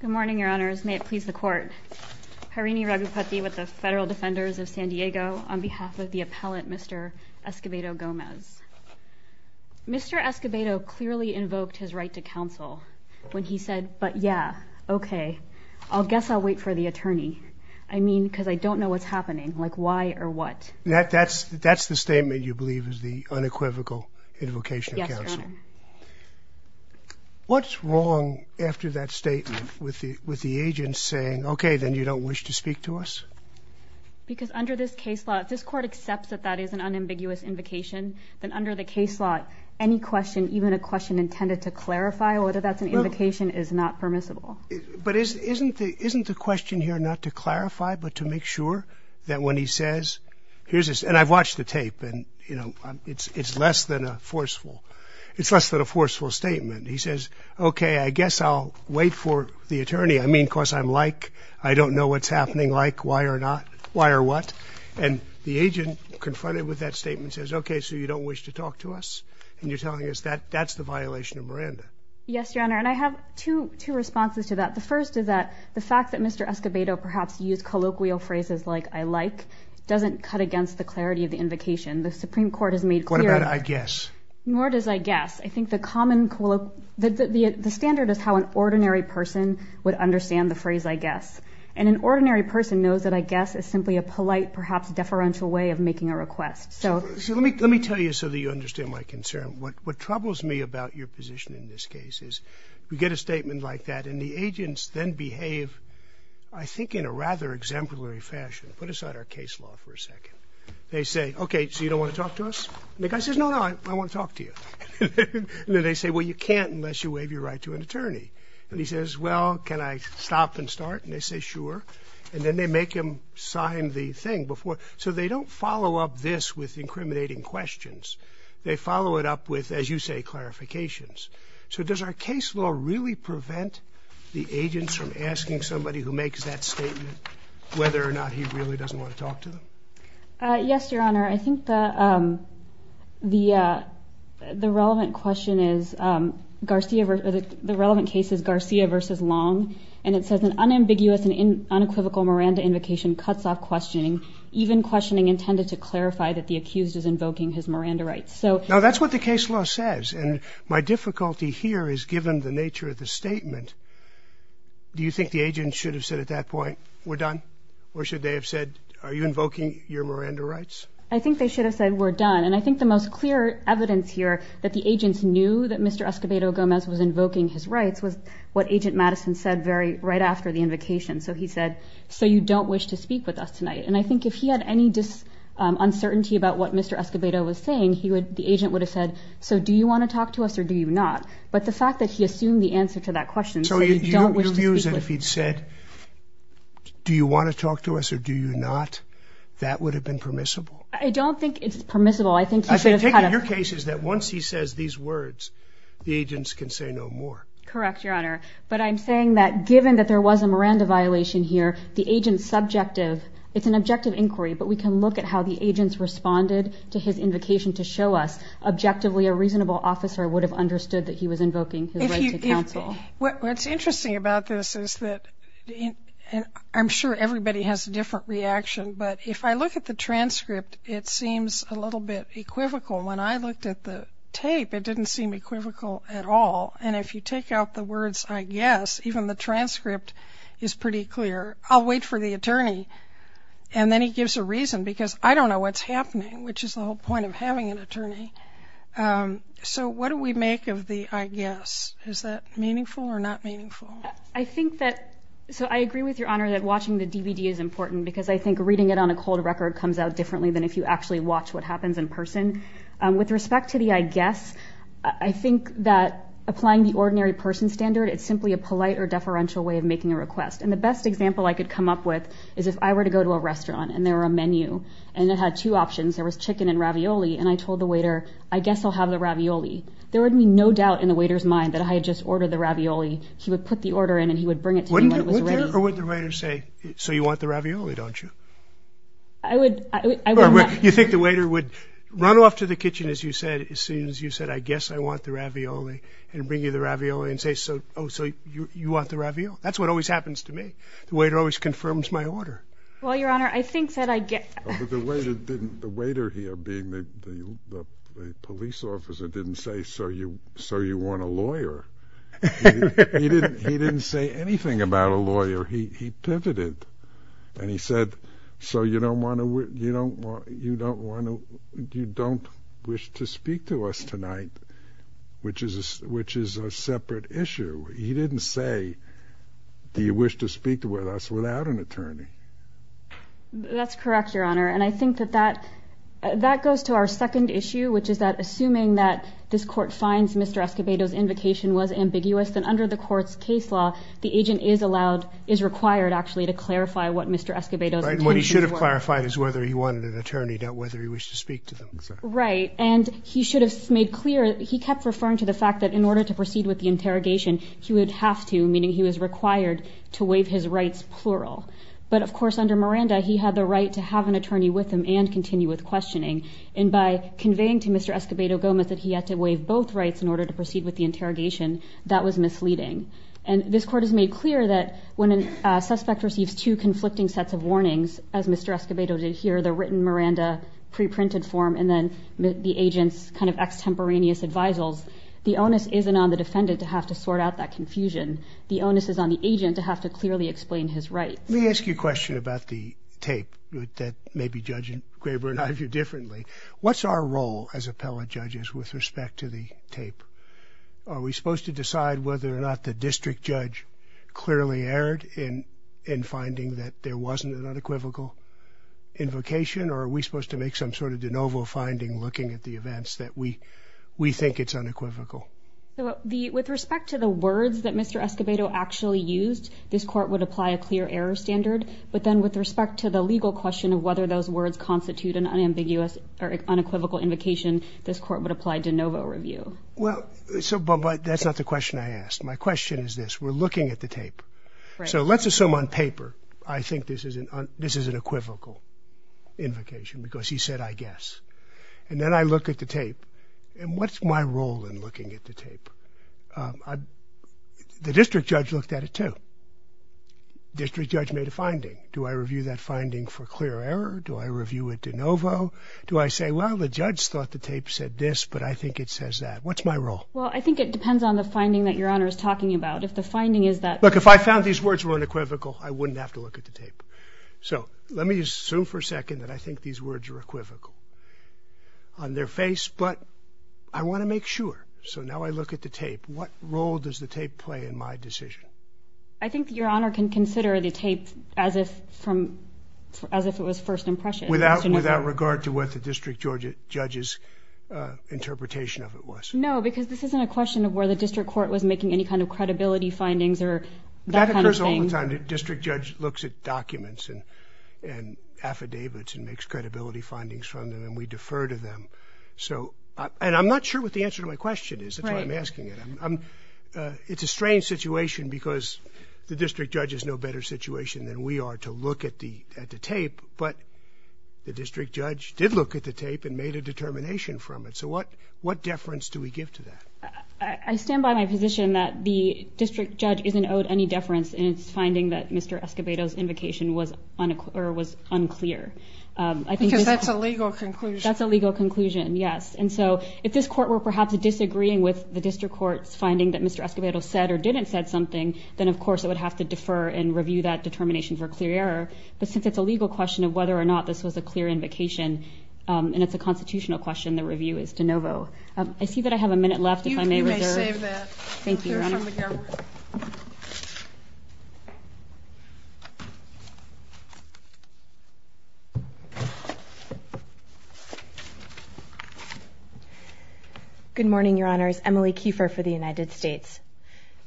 Good morning, your honors. May it please the court. Harini Raghupati with the Federal Defenders of San Diego on behalf of the appellate Mr. Escobedo-Gomez. Mr. Escobedo clearly invoked his right to counsel when he said, but yeah, okay, I guess I'll wait for the attorney. I mean, because I don't know what's happening. Like why or what? That's the statement you believe is the unequivocal invocation of counsel? Yes, your honor. What's wrong after that statement with the agent saying, okay, then you don't wish to speak to us? Because under this case law, if this court accepts that that is an unambiguous invocation, then under the case law, any question, even a question intended to clarify whether that's an invocation is not permissible. But isn't the question here not to clarify, but to make sure that when he says, here's this, and I've watched the tape and, you know, it's less than a forceful, it's less than a forceful statement. He says, okay, I guess I'll wait for the attorney. I mean, because I'm like, I don't know what's happening. Like why or not? Why or what? And the agent confronted with that statement says, okay, so you don't wish to talk to us. And you're telling us that that's the violation of Miranda. Yes, your honor. And I have two responses to that. The first is that the fact that Mr. Escobedo perhaps used colloquial phrases like I like doesn't cut against the clarity of the invocation. The Supreme Court has made clear. What about I guess? Nor does I guess. I think the common, the standard is how an ordinary person would understand the phrase I guess. And an ordinary person knows that I guess is simply a polite, perhaps deferential way of making a request. So let me let me tell you so that you understand my concern. What troubles me about your position in this case is we get a statement like that. And the agents then behave, I think, in a rather exemplary fashion. Put aside our case law for a second. They say, OK, so you don't want to talk to us. The guy says, no, no, I want to talk to you. They say, well, you can't unless you waive your right to an attorney. And he says, well, can I stop and start? And they say, sure. And then they make him sign the thing before. So they don't follow up this with incriminating questions. They follow it up with, as you say, clarifications. So does our case law really prevent the agents from asking somebody who makes that statement whether or not he really doesn't want to talk to them? Yes, Your Honor. Your Honor, I think the relevant question is Garcia. The relevant case is Garcia versus Long. And it says an unambiguous and unequivocal Miranda invocation cuts off questioning, even questioning intended to clarify that the accused is invoking his Miranda rights. Now, that's what the case law says. And my difficulty here is given the nature of the statement, do you think the agent should have said at that point, we're done? Or should they have said, are you invoking your Miranda rights? I think they should have said, we're done. And I think the most clear evidence here that the agents knew that Mr. Escobedo Gomez was invoking his rights was what Agent Madison said right after the invocation. So he said, so you don't wish to speak with us tonight? And I think if he had any uncertainty about what Mr. Escobedo was saying, the agent would have said, so do you want to talk to us or do you not? But the fact that he assumed the answer to that question, so you don't wish to speak with us. And if he'd said, do you want to talk to us or do you not, that would have been permissible. I don't think it's permissible. I think he should have had a. I take it your case is that once he says these words, the agents can say no more. Correct, Your Honor. But I'm saying that given that there was a Miranda violation here, the agent's subjective, it's an objective inquiry, but we can look at how the agents responded to his invocation to show us objectively a reasonable officer would have understood that he was invoking his rights to counsel. What's interesting about this is that I'm sure everybody has a different reaction, but if I look at the transcript, it seems a little bit equivocal. When I looked at the tape, it didn't seem equivocal at all. And if you take out the words, I guess, even the transcript is pretty clear. I'll wait for the attorney. And then he gives a reason because I don't know what's happening, which is the whole point of having an attorney. So what do we make of the I guess? Is that meaningful or not meaningful? I think that so I agree with Your Honor that watching the DVD is important because I think reading it on a cold record comes out differently than if you actually watch what happens in person. With respect to the I guess, I think that applying the ordinary person standard, it's simply a polite or deferential way of making a request. And the best example I could come up with is if I were to go to a restaurant and there were a menu and it had two options, there was chicken and ravioli, and I told the waiter, I guess I'll have the ravioli. There would be no doubt in the waiter's mind that I had just ordered the ravioli. He would put the order in and he would bring it to me when it was ready. Or would the waiter say, so you want the ravioli, don't you? I would not. You think the waiter would run off to the kitchen, as you said, as soon as you said, I guess I want the ravioli, and bring you the ravioli and say, oh, so you want the ravioli? That's what always happens to me. The waiter always confirms my order. Well, Your Honor, I think that I guess. The waiter here being the police officer didn't say, so you want a lawyer. He didn't say anything about a lawyer. He pivoted. And he said, so you don't want to wish to speak to us tonight, which is a separate issue. He didn't say, do you wish to speak to us without an attorney. That's correct, Your Honor. And I think that that goes to our second issue, which is that assuming that this court finds Mr. Escobedo's invocation was ambiguous, then under the court's case law, the agent is allowed, is required, actually, to clarify what Mr. Escobedo's intentions were. What he should have clarified is whether he wanted an attorney, not whether he wished to speak to them. Right. And he should have made clear, he kept referring to the fact that in order to proceed with the interrogation, he would have to, meaning he was required, to waive his rights, plural. But, of course, under Miranda, he had the right to have an attorney with him and continue with questioning. And by conveying to Mr. Escobedo Gomez that he had to waive both rights in order to proceed with the interrogation, that was misleading. And this court has made clear that when a suspect receives two conflicting sets of warnings, as Mr. Escobedo did here, the written Miranda, pre-printed form, and then the agent's kind of extemporaneous advisals, the onus isn't on the defendant to have to sort out that confusion. The onus is on the agent to have to clearly explain his rights. Let me ask you a question about the tape that maybe Judge Graber and I view differently. What's our role as appellate judges with respect to the tape? Are we supposed to decide whether or not the district judge clearly erred in finding that there wasn't an unequivocal invocation, or are we supposed to make some sort of de novo finding looking at the events that we think it's unequivocal? So with respect to the words that Mr. Escobedo actually used, this court would apply a clear error standard, but then with respect to the legal question of whether those words constitute an unambiguous or unequivocal invocation, this court would apply de novo review. Well, but that's not the question I asked. My question is this. We're looking at the tape. So let's assume on paper I think this is an unequivocal invocation because he said, I guess. And then I look at the tape. And what's my role in looking at the tape? The district judge looked at it too. District judge made a finding. Do I review that finding for clear error? Do I review it de novo? Do I say, well, the judge thought the tape said this, but I think it says that. What's my role? Well, I think it depends on the finding that Your Honor is talking about. If the finding is that... Look, if I found these words were unequivocal, I wouldn't have to look at the tape. So let me just assume for a second that I think these words are equivocal on their face. But I want to make sure. So now I look at the tape. What role does the tape play in my decision? I think Your Honor can consider the tape as if it was first impression. Without regard to what the district judge's interpretation of it was? No, because this isn't a question of where the district court was making any kind of credibility findings or that kind of thing. All the time the district judge looks at documents and affidavits and makes credibility findings from them, and we defer to them. And I'm not sure what the answer to my question is. That's why I'm asking it. It's a strange situation because the district judge has no better situation than we are to look at the tape. But the district judge did look at the tape and made a determination from it. So what deference do we give to that? I stand by my position that the district judge isn't owed any deference in its finding that Mr. Escobedo's invocation was unclear. Because that's a legal conclusion. That's a legal conclusion, yes. And so if this court were perhaps disagreeing with the district court's finding that Mr. Escobedo said or didn't say something, then, of course, it would have to defer and review that determination for clear error. But since it's a legal question of whether or not this was a clear invocation and it's a constitutional question, the review is de novo. I see that I have a minute left if I may reserve. You may save that. Thank you, Your Honor. Good morning, Your Honors. Emily Kiefer for the United States.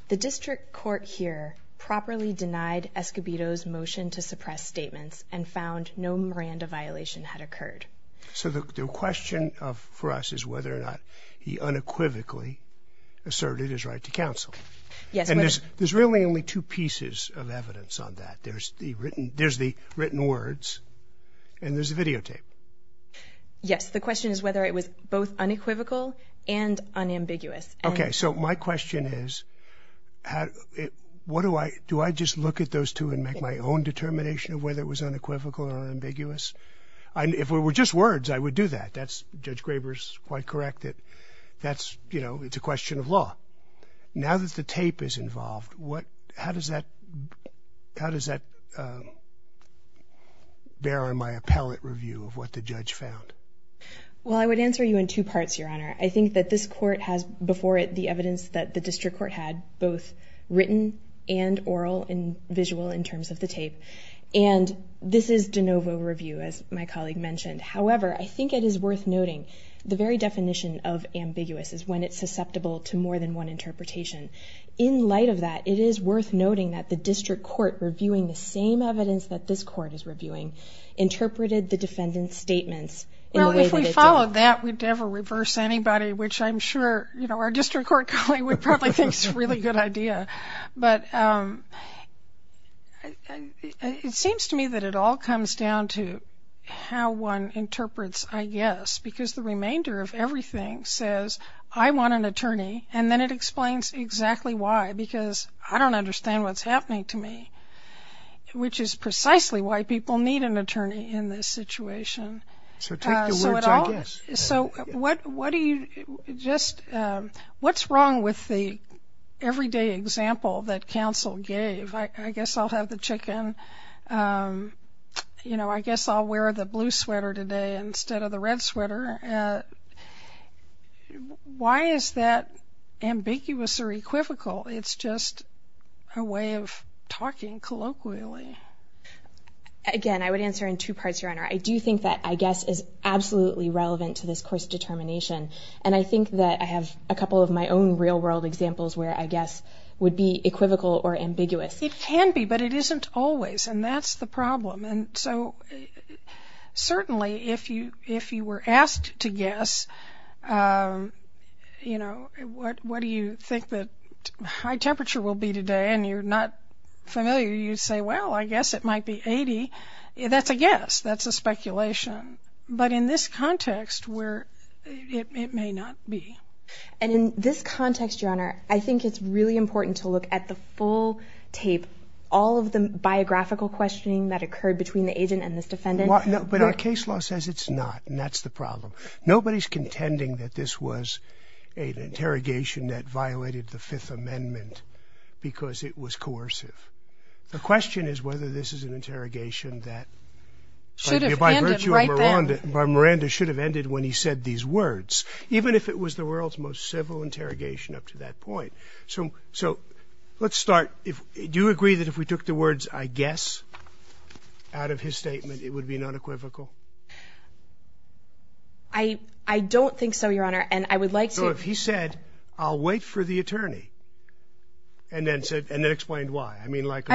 The district court here properly denied Escobedo's motion to suppress statements and found no Miranda violation had occurred. So the question for us is whether or not he unequivocally asserted his right to counsel. Yes. And there's really only two pieces of evidence on that. There's the written words and there's the videotape. Yes. The question is whether it was both unequivocal and unambiguous. Okay. So my question is, do I just look at those two and make my own determination of whether it was unequivocal or unambiguous? If it were just words, I would do that. Judge Graber is quite correct that it's a question of law. Now that the tape is involved, how does that bear on my appellate review of what the judge found? Well, I would answer you in two parts, Your Honor. I think that this court has before it the evidence that the district court had, and this is de novo review, as my colleague mentioned. However, I think it is worth noting the very definition of ambiguous is when it's susceptible to more than one interpretation. In light of that, it is worth noting that the district court, reviewing the same evidence that this court is reviewing, interpreted the defendant's statements in the way that it did. Well, if we followed that, we'd never reverse anybody, which I'm sure our district court colleague would probably think is a really good idea. But it seems to me that it all comes down to how one interprets, I guess, because the remainder of everything says, I want an attorney, and then it explains exactly why, because I don't understand what's happening to me, which is precisely why people need an attorney in this situation. So take the words, I guess. So what's wrong with the everyday example that counsel gave? I guess I'll have the chicken. You know, I guess I'll wear the blue sweater today instead of the red sweater. Why is that ambiguous or equivocal? It's just a way of talking colloquially. I do think that I guess is absolutely relevant to this course determination, and I think that I have a couple of my own real-world examples where I guess would be equivocal or ambiguous. It can be, but it isn't always, and that's the problem. And so certainly if you were asked to guess, you know, what do you think the high temperature will be today, and you're not familiar, you'd say, well, I guess it might be 80. That's a guess. That's a speculation. But in this context where it may not be. And in this context, Your Honor, I think it's really important to look at the full tape, all of the biographical questioning that occurred between the agent and this defendant. But our case law says it's not, and that's the problem. Nobody's contending that this was an interrogation that violated the Fifth Amendment because it was coercive. The question is whether this is an interrogation that by virtue of Miranda should have ended when he said these words, even if it was the world's most civil interrogation up to that point. So let's start. Do you agree that if we took the words, I guess, out of his statement, it would be unequivocal? I don't think so, Your Honor, and I would like to. So if he said, I'll wait for the attorney, and then explained why. I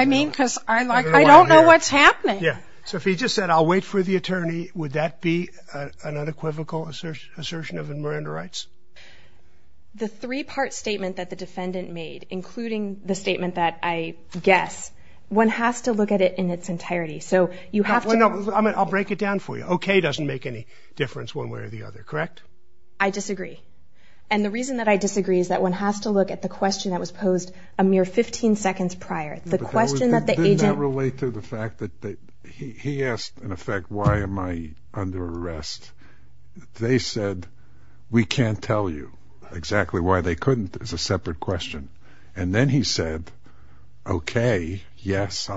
mean, because I don't know what's happening. So if he just said, I'll wait for the attorney, would that be an unequivocal assertion of Miranda rights? The three-part statement that the defendant made, including the statement that I guess, one has to look at it in its entirety. I'll break it down for you. Okay doesn't make any difference one way or the other, correct? I disagree. And the reason that I disagree is that one has to look at the question that was posed a mere 15 seconds prior. The question that the agent. Did that relate to the fact that he asked, in effect, why am I under arrest? They said, we can't tell you exactly why they couldn't. It's a separate question. And then he said, okay, yes,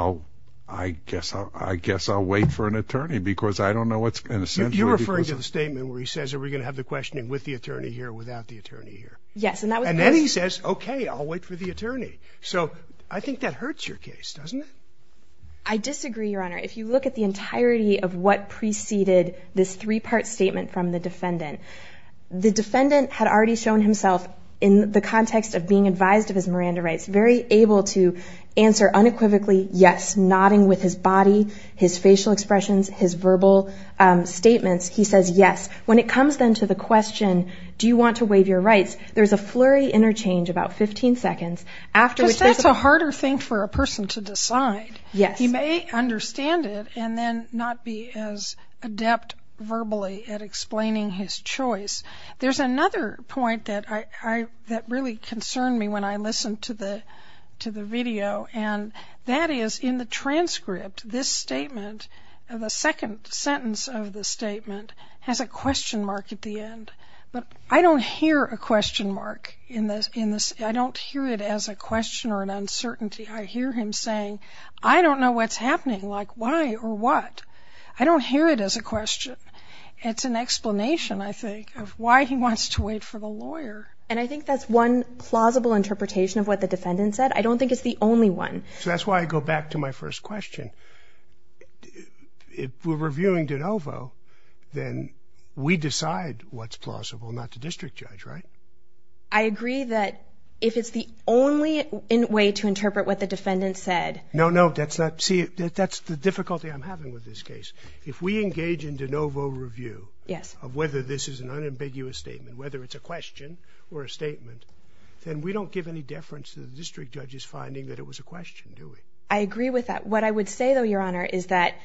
I guess I'll wait for an attorney because I don't know what's going to essentially. You're referring to the statement where he says, are we going to have the questioning with the attorney here or without the attorney here? Yes. And then he says, okay, I'll wait for the attorney. So I think that hurts your case, doesn't it? I disagree, Your Honor. If you look at the entirety of what preceded this three-part statement from the defendant, the defendant had already shown himself in the context of being advised of his Miranda rights, very able to answer unequivocally yes, nodding with his body, his facial expressions, his verbal statements. He says yes. When it comes then to the question, do you want to waive your rights? There's a flurry interchange about 15 seconds. Because that's a harder thing for a person to decide. Yes. He may understand it and then not be as adept verbally at explaining his choice. There's another point that really concerned me when I listened to the video, and that is in the transcript, this statement, the second sentence of the statement, has a question mark at the end. But I don't hear a question mark in this. I don't hear it as a question or an uncertainty. I hear him saying, I don't know what's happening, like why or what. I don't hear it as a question. It's an explanation, I think, of why he wants to wait for the lawyer. And I think that's one plausible interpretation of what the defendant said. I don't think it's the only one. So that's why I go back to my first question. If we're reviewing de novo, then we decide what's plausible, not the district judge, right? I agree that if it's the only way to interpret what the defendant said. No, no. See, that's the difficulty I'm having with this case. If we engage in de novo review of whether this is an unambiguous statement, whether it's a question or a statement, then we don't give any deference to the district judge's finding that it was a question, do we? I agree with that. What I would say, though, Your Honor, is that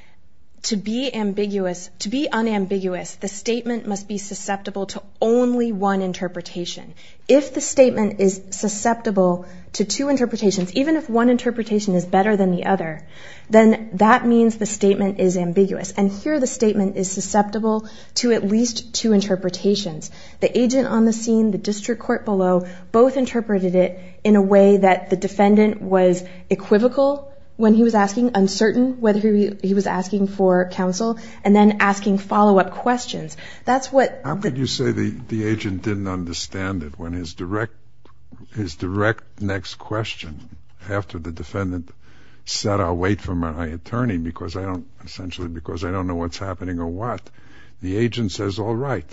to be unambiguous, the statement must be susceptible to only one interpretation. If the statement is susceptible to two interpretations, even if one interpretation is better than the other, then that means the statement is ambiguous. And here the statement is susceptible to at least two interpretations. The agent on the scene, the district court below, both interpreted it in a way that the defendant was equivocal when he was asking, uncertain whether he was asking for counsel, and then asking follow-up questions. How could you say the agent didn't understand it when his direct next question, after the defendant said, I'll wait for my attorney essentially because I don't know what's happening or what, the agent says, all right,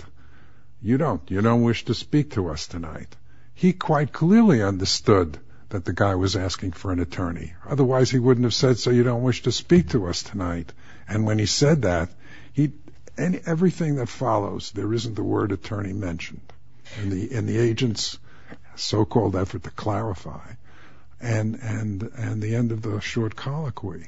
you don't. You don't wish to speak to us tonight. He quite clearly understood that the guy was asking for an attorney. Otherwise he wouldn't have said, so you don't wish to speak to us tonight. And when he said that, everything that follows, there isn't the word attorney mentioned in the agent's so-called effort to clarify. And the end of the short colloquy.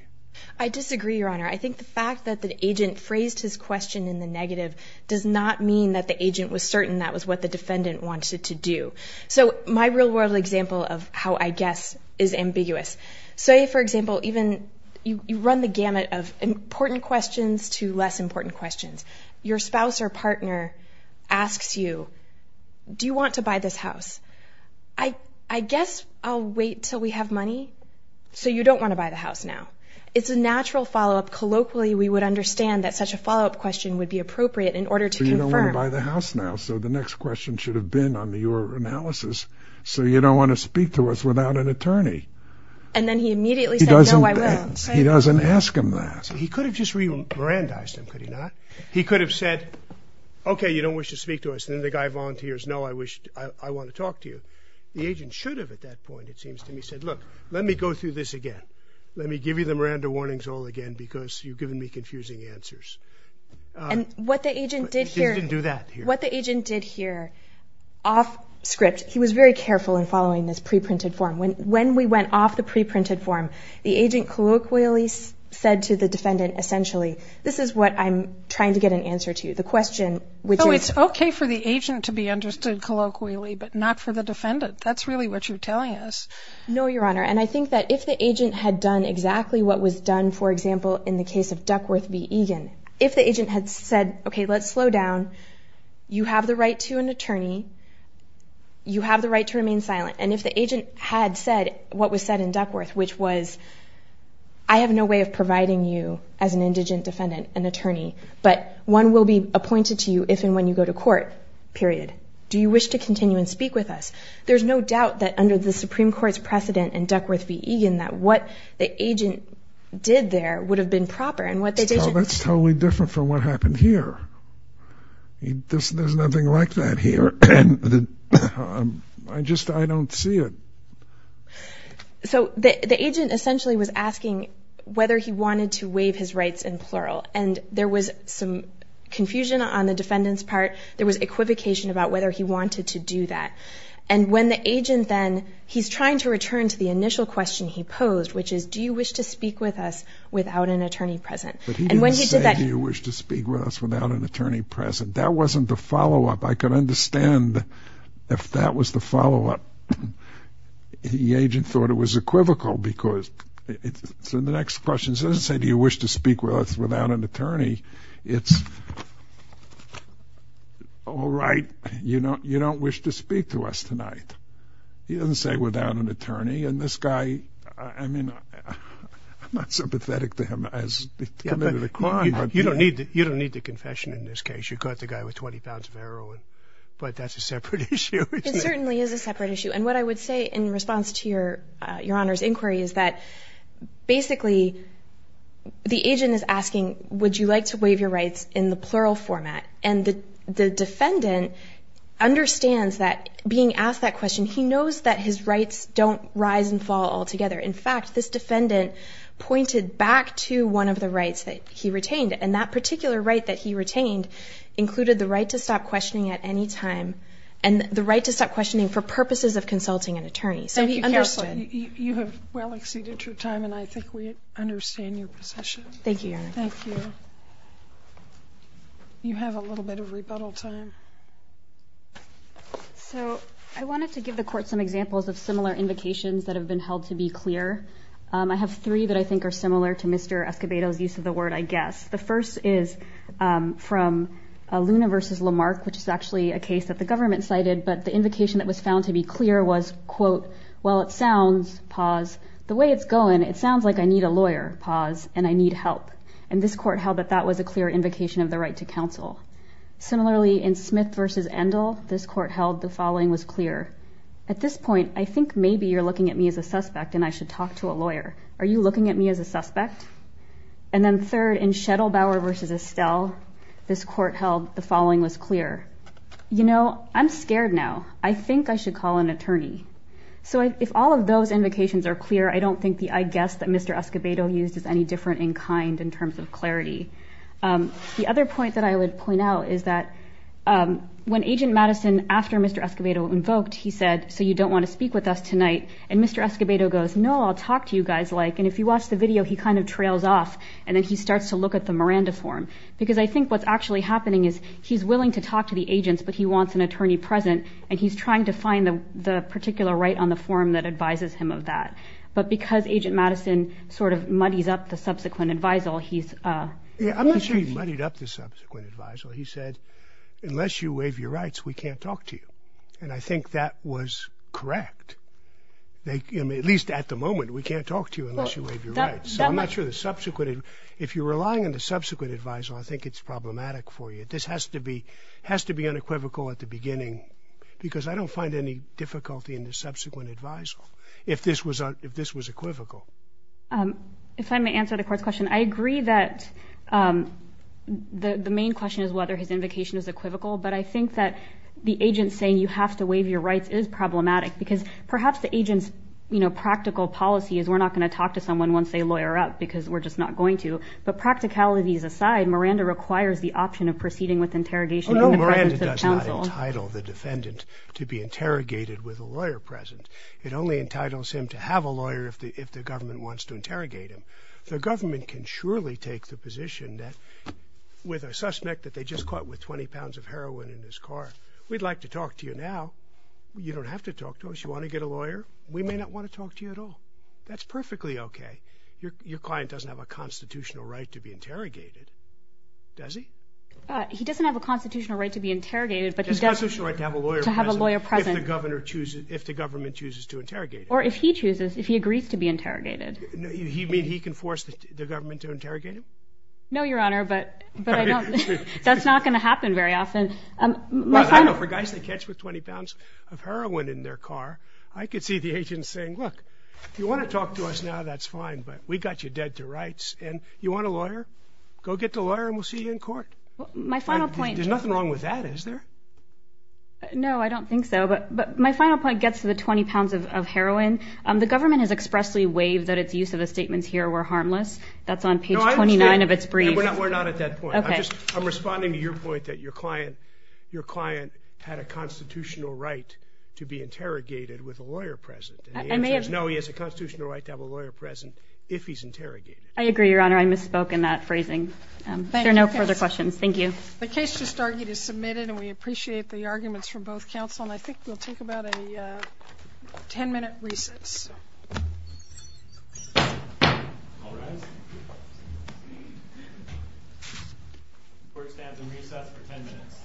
I disagree, Your Honor. I think the fact that the agent phrased his question in the negative does not mean that the agent was certain that was what the defendant wanted to do. So my real-world example of how I guess is ambiguous. Say, for example, even you run the gamut of important questions to less important questions. Your spouse or partner asks you, do you want to buy this house? I guess I'll wait until we have money. So you don't want to buy the house now. It's a natural follow-up. We would understand that such a follow-up question would be appropriate in order to confirm. So you don't want to buy the house now. So the next question should have been on your analysis. So you don't want to speak to us without an attorney. And then he immediately said, no, I will. He doesn't ask him that. He could have just re-Miranda-ized him, could he not? He could have said, okay, you don't wish to speak to us. And then the guy volunteers, no, I want to talk to you. The agent should have at that point, it seems to me, said, look, let me go through this again. Let me give you the Miranda warnings all again because you've given me confusing answers. And what the agent did here, what the agent did here, off script, he was very careful in following this pre-printed form. When we went off the pre-printed form, the agent colloquially said to the defendant, essentially, this is what I'm trying to get an answer to, the question, which is. Oh, it's okay for the agent to be understood colloquially, but not for the defendant. That's really what you're telling us. No, Your Honor, and I think that if the agent had done exactly what was done, for example, in the case of Duckworth v. Egan, if the agent had said, okay, let's slow down. You have the right to an attorney. You have the right to remain silent. And if the agent had said what was said in Duckworth, which was, I have no way of providing you as an indigent defendant an attorney, but one will be appointed to you if and when you go to court, period. Do you wish to continue and speak with us? There's no doubt that under the Supreme Court's precedent in Duckworth v. Egan, that what the agent did there would have been proper. That's totally different from what happened here. There's nothing like that here. I just don't see it. So the agent essentially was asking whether he wanted to waive his rights in plural, and there was some confusion on the defendant's part. There was equivocation about whether he wanted to do that. And when the agent then, he's trying to return to the initial question he posed, which is, do you wish to speak with us without an attorney present? But he didn't say, do you wish to speak with us without an attorney present. That wasn't the follow-up. I could understand if that was the follow-up. The agent thought it was equivocal because it's in the next question. He doesn't say, do you wish to speak with us without an attorney. It's, all right, you don't wish to speak to us tonight. He doesn't say without an attorney. And this guy, I mean, I'm not sympathetic to him as committed a crime. You don't need the confession in this case. You caught the guy with 20 pounds of heroin. But that's a separate issue, isn't it? It certainly is a separate issue. And what I would say in response to Your Honor's inquiry is that basically the agent is asking, would you like to waive your rights in the plural format? And the defendant understands that being asked that question, he knows that his rights don't rise and fall altogether. In fact, this defendant pointed back to one of the rights that he retained. And that particular right that he retained included the right to stop questioning at any time and the right to stop questioning for purposes of consulting an attorney. So he understood. You have well exceeded your time, and I think we understand your position. Thank you, Your Honor. Thank you. You have a little bit of rebuttal time. So I wanted to give the Court some examples of similar invocations that have been held to be clear. I have three that I think are similar to Mr. Escobedo's use of the word I guess. The first is from Luna v. Lamarck, which is actually a case that the government cited, but the invocation that was found to be clear was, quote, while it sounds, pause, the way it's going, it sounds like I need a lawyer, pause, and I need help. And this Court held that that was a clear invocation of the right to counsel. Similarly, in Smith v. Endel, this Court held the following was clear. At this point, I think maybe you're looking at me as a suspect and I should talk to a lawyer. Are you looking at me as a suspect? And then third, in Schettelbauer v. Estelle, this Court held the following was clear. You know, I'm scared now. I think I should call an attorney. So if all of those invocations are clear, I don't think the I guess that Mr. Escobedo used is any different in kind in terms of clarity. The other point that I would point out is that when Agent Madison, after Mr. Escobedo invoked, he said, so you don't want to speak with us tonight, and Mr. Escobedo goes, no, I'll talk to you guys like, and if you watch the video, he kind of trails off and then he starts to look at the Miranda form. Because I think what's actually happening is he's willing to talk to the agents, but he wants an attorney present and he's trying to find the particular right on the form that advises him of that. But because Agent Madison sort of muddies up the subsequent advisal, he's. Yeah, I'm not sure he muddied up the subsequent advisal. He said, unless you waive your rights, we can't talk to you. And I think that was correct. At least at the moment, we can't talk to you unless you waive your rights. So I'm not sure the subsequent. If you're relying on the subsequent adviser, I think it's problematic for you. This has to be has to be unequivocal at the beginning because I don't find any difficulty in the subsequent adviser. If this was if this was equivocal. If I may answer the court's question, I agree that the main question is whether his invocation is equivocal. But I think that the agent saying you have to waive your rights is problematic because perhaps the agent's, you know, practical policy is we're not going to talk to someone once they lawyer up because we're just not going to. But practicalities aside, Miranda requires the option of proceeding with interrogation. No, Miranda does not entitle the defendant to be interrogated with a lawyer present. It only entitles him to have a lawyer if the if the government wants to interrogate him. The government can surely take the position that with a suspect that they just caught with 20 pounds of heroin in his car. We'd like to talk to you now. You don't have to talk to us. You want to get a lawyer. We may not want to talk to you at all. That's perfectly OK. Your client doesn't have a constitutional right to be interrogated. Does he? He doesn't have a constitutional right to be interrogated, but he doesn't have a lawyer to have a lawyer present. The governor chooses if the government chooses to interrogate or if he chooses if he agrees to be interrogated. You mean he can force the government to interrogate him? No, Your Honor, but that's not going to happen very often. I know for guys that catch with 20 pounds of heroin in their car, I could see the agent saying, look, if you want to talk to us now, that's fine. But we got you dead to rights. And you want a lawyer? Go get the lawyer and we'll see you in court. My final point. There's nothing wrong with that, is there? No, I don't think so. But my final point gets to the 20 pounds of heroin. The government has expressly waived that its use of the statements here were harmless. That's on page 29 of its brief. No, I understand. We're not at that point. I'm responding to your point that your client had a constitutional right to be interrogated with a lawyer present. And the answer is no, he has a constitutional right to have a lawyer present if he's interrogated. I agree, Your Honor. I misspoke in that phrasing. There are no further questions. Thank you. The case just argued is submitted, and we appreciate the arguments from both counsel. And I think we'll take about a 10-minute recess. All rise. Court stands in recess for 10 minutes.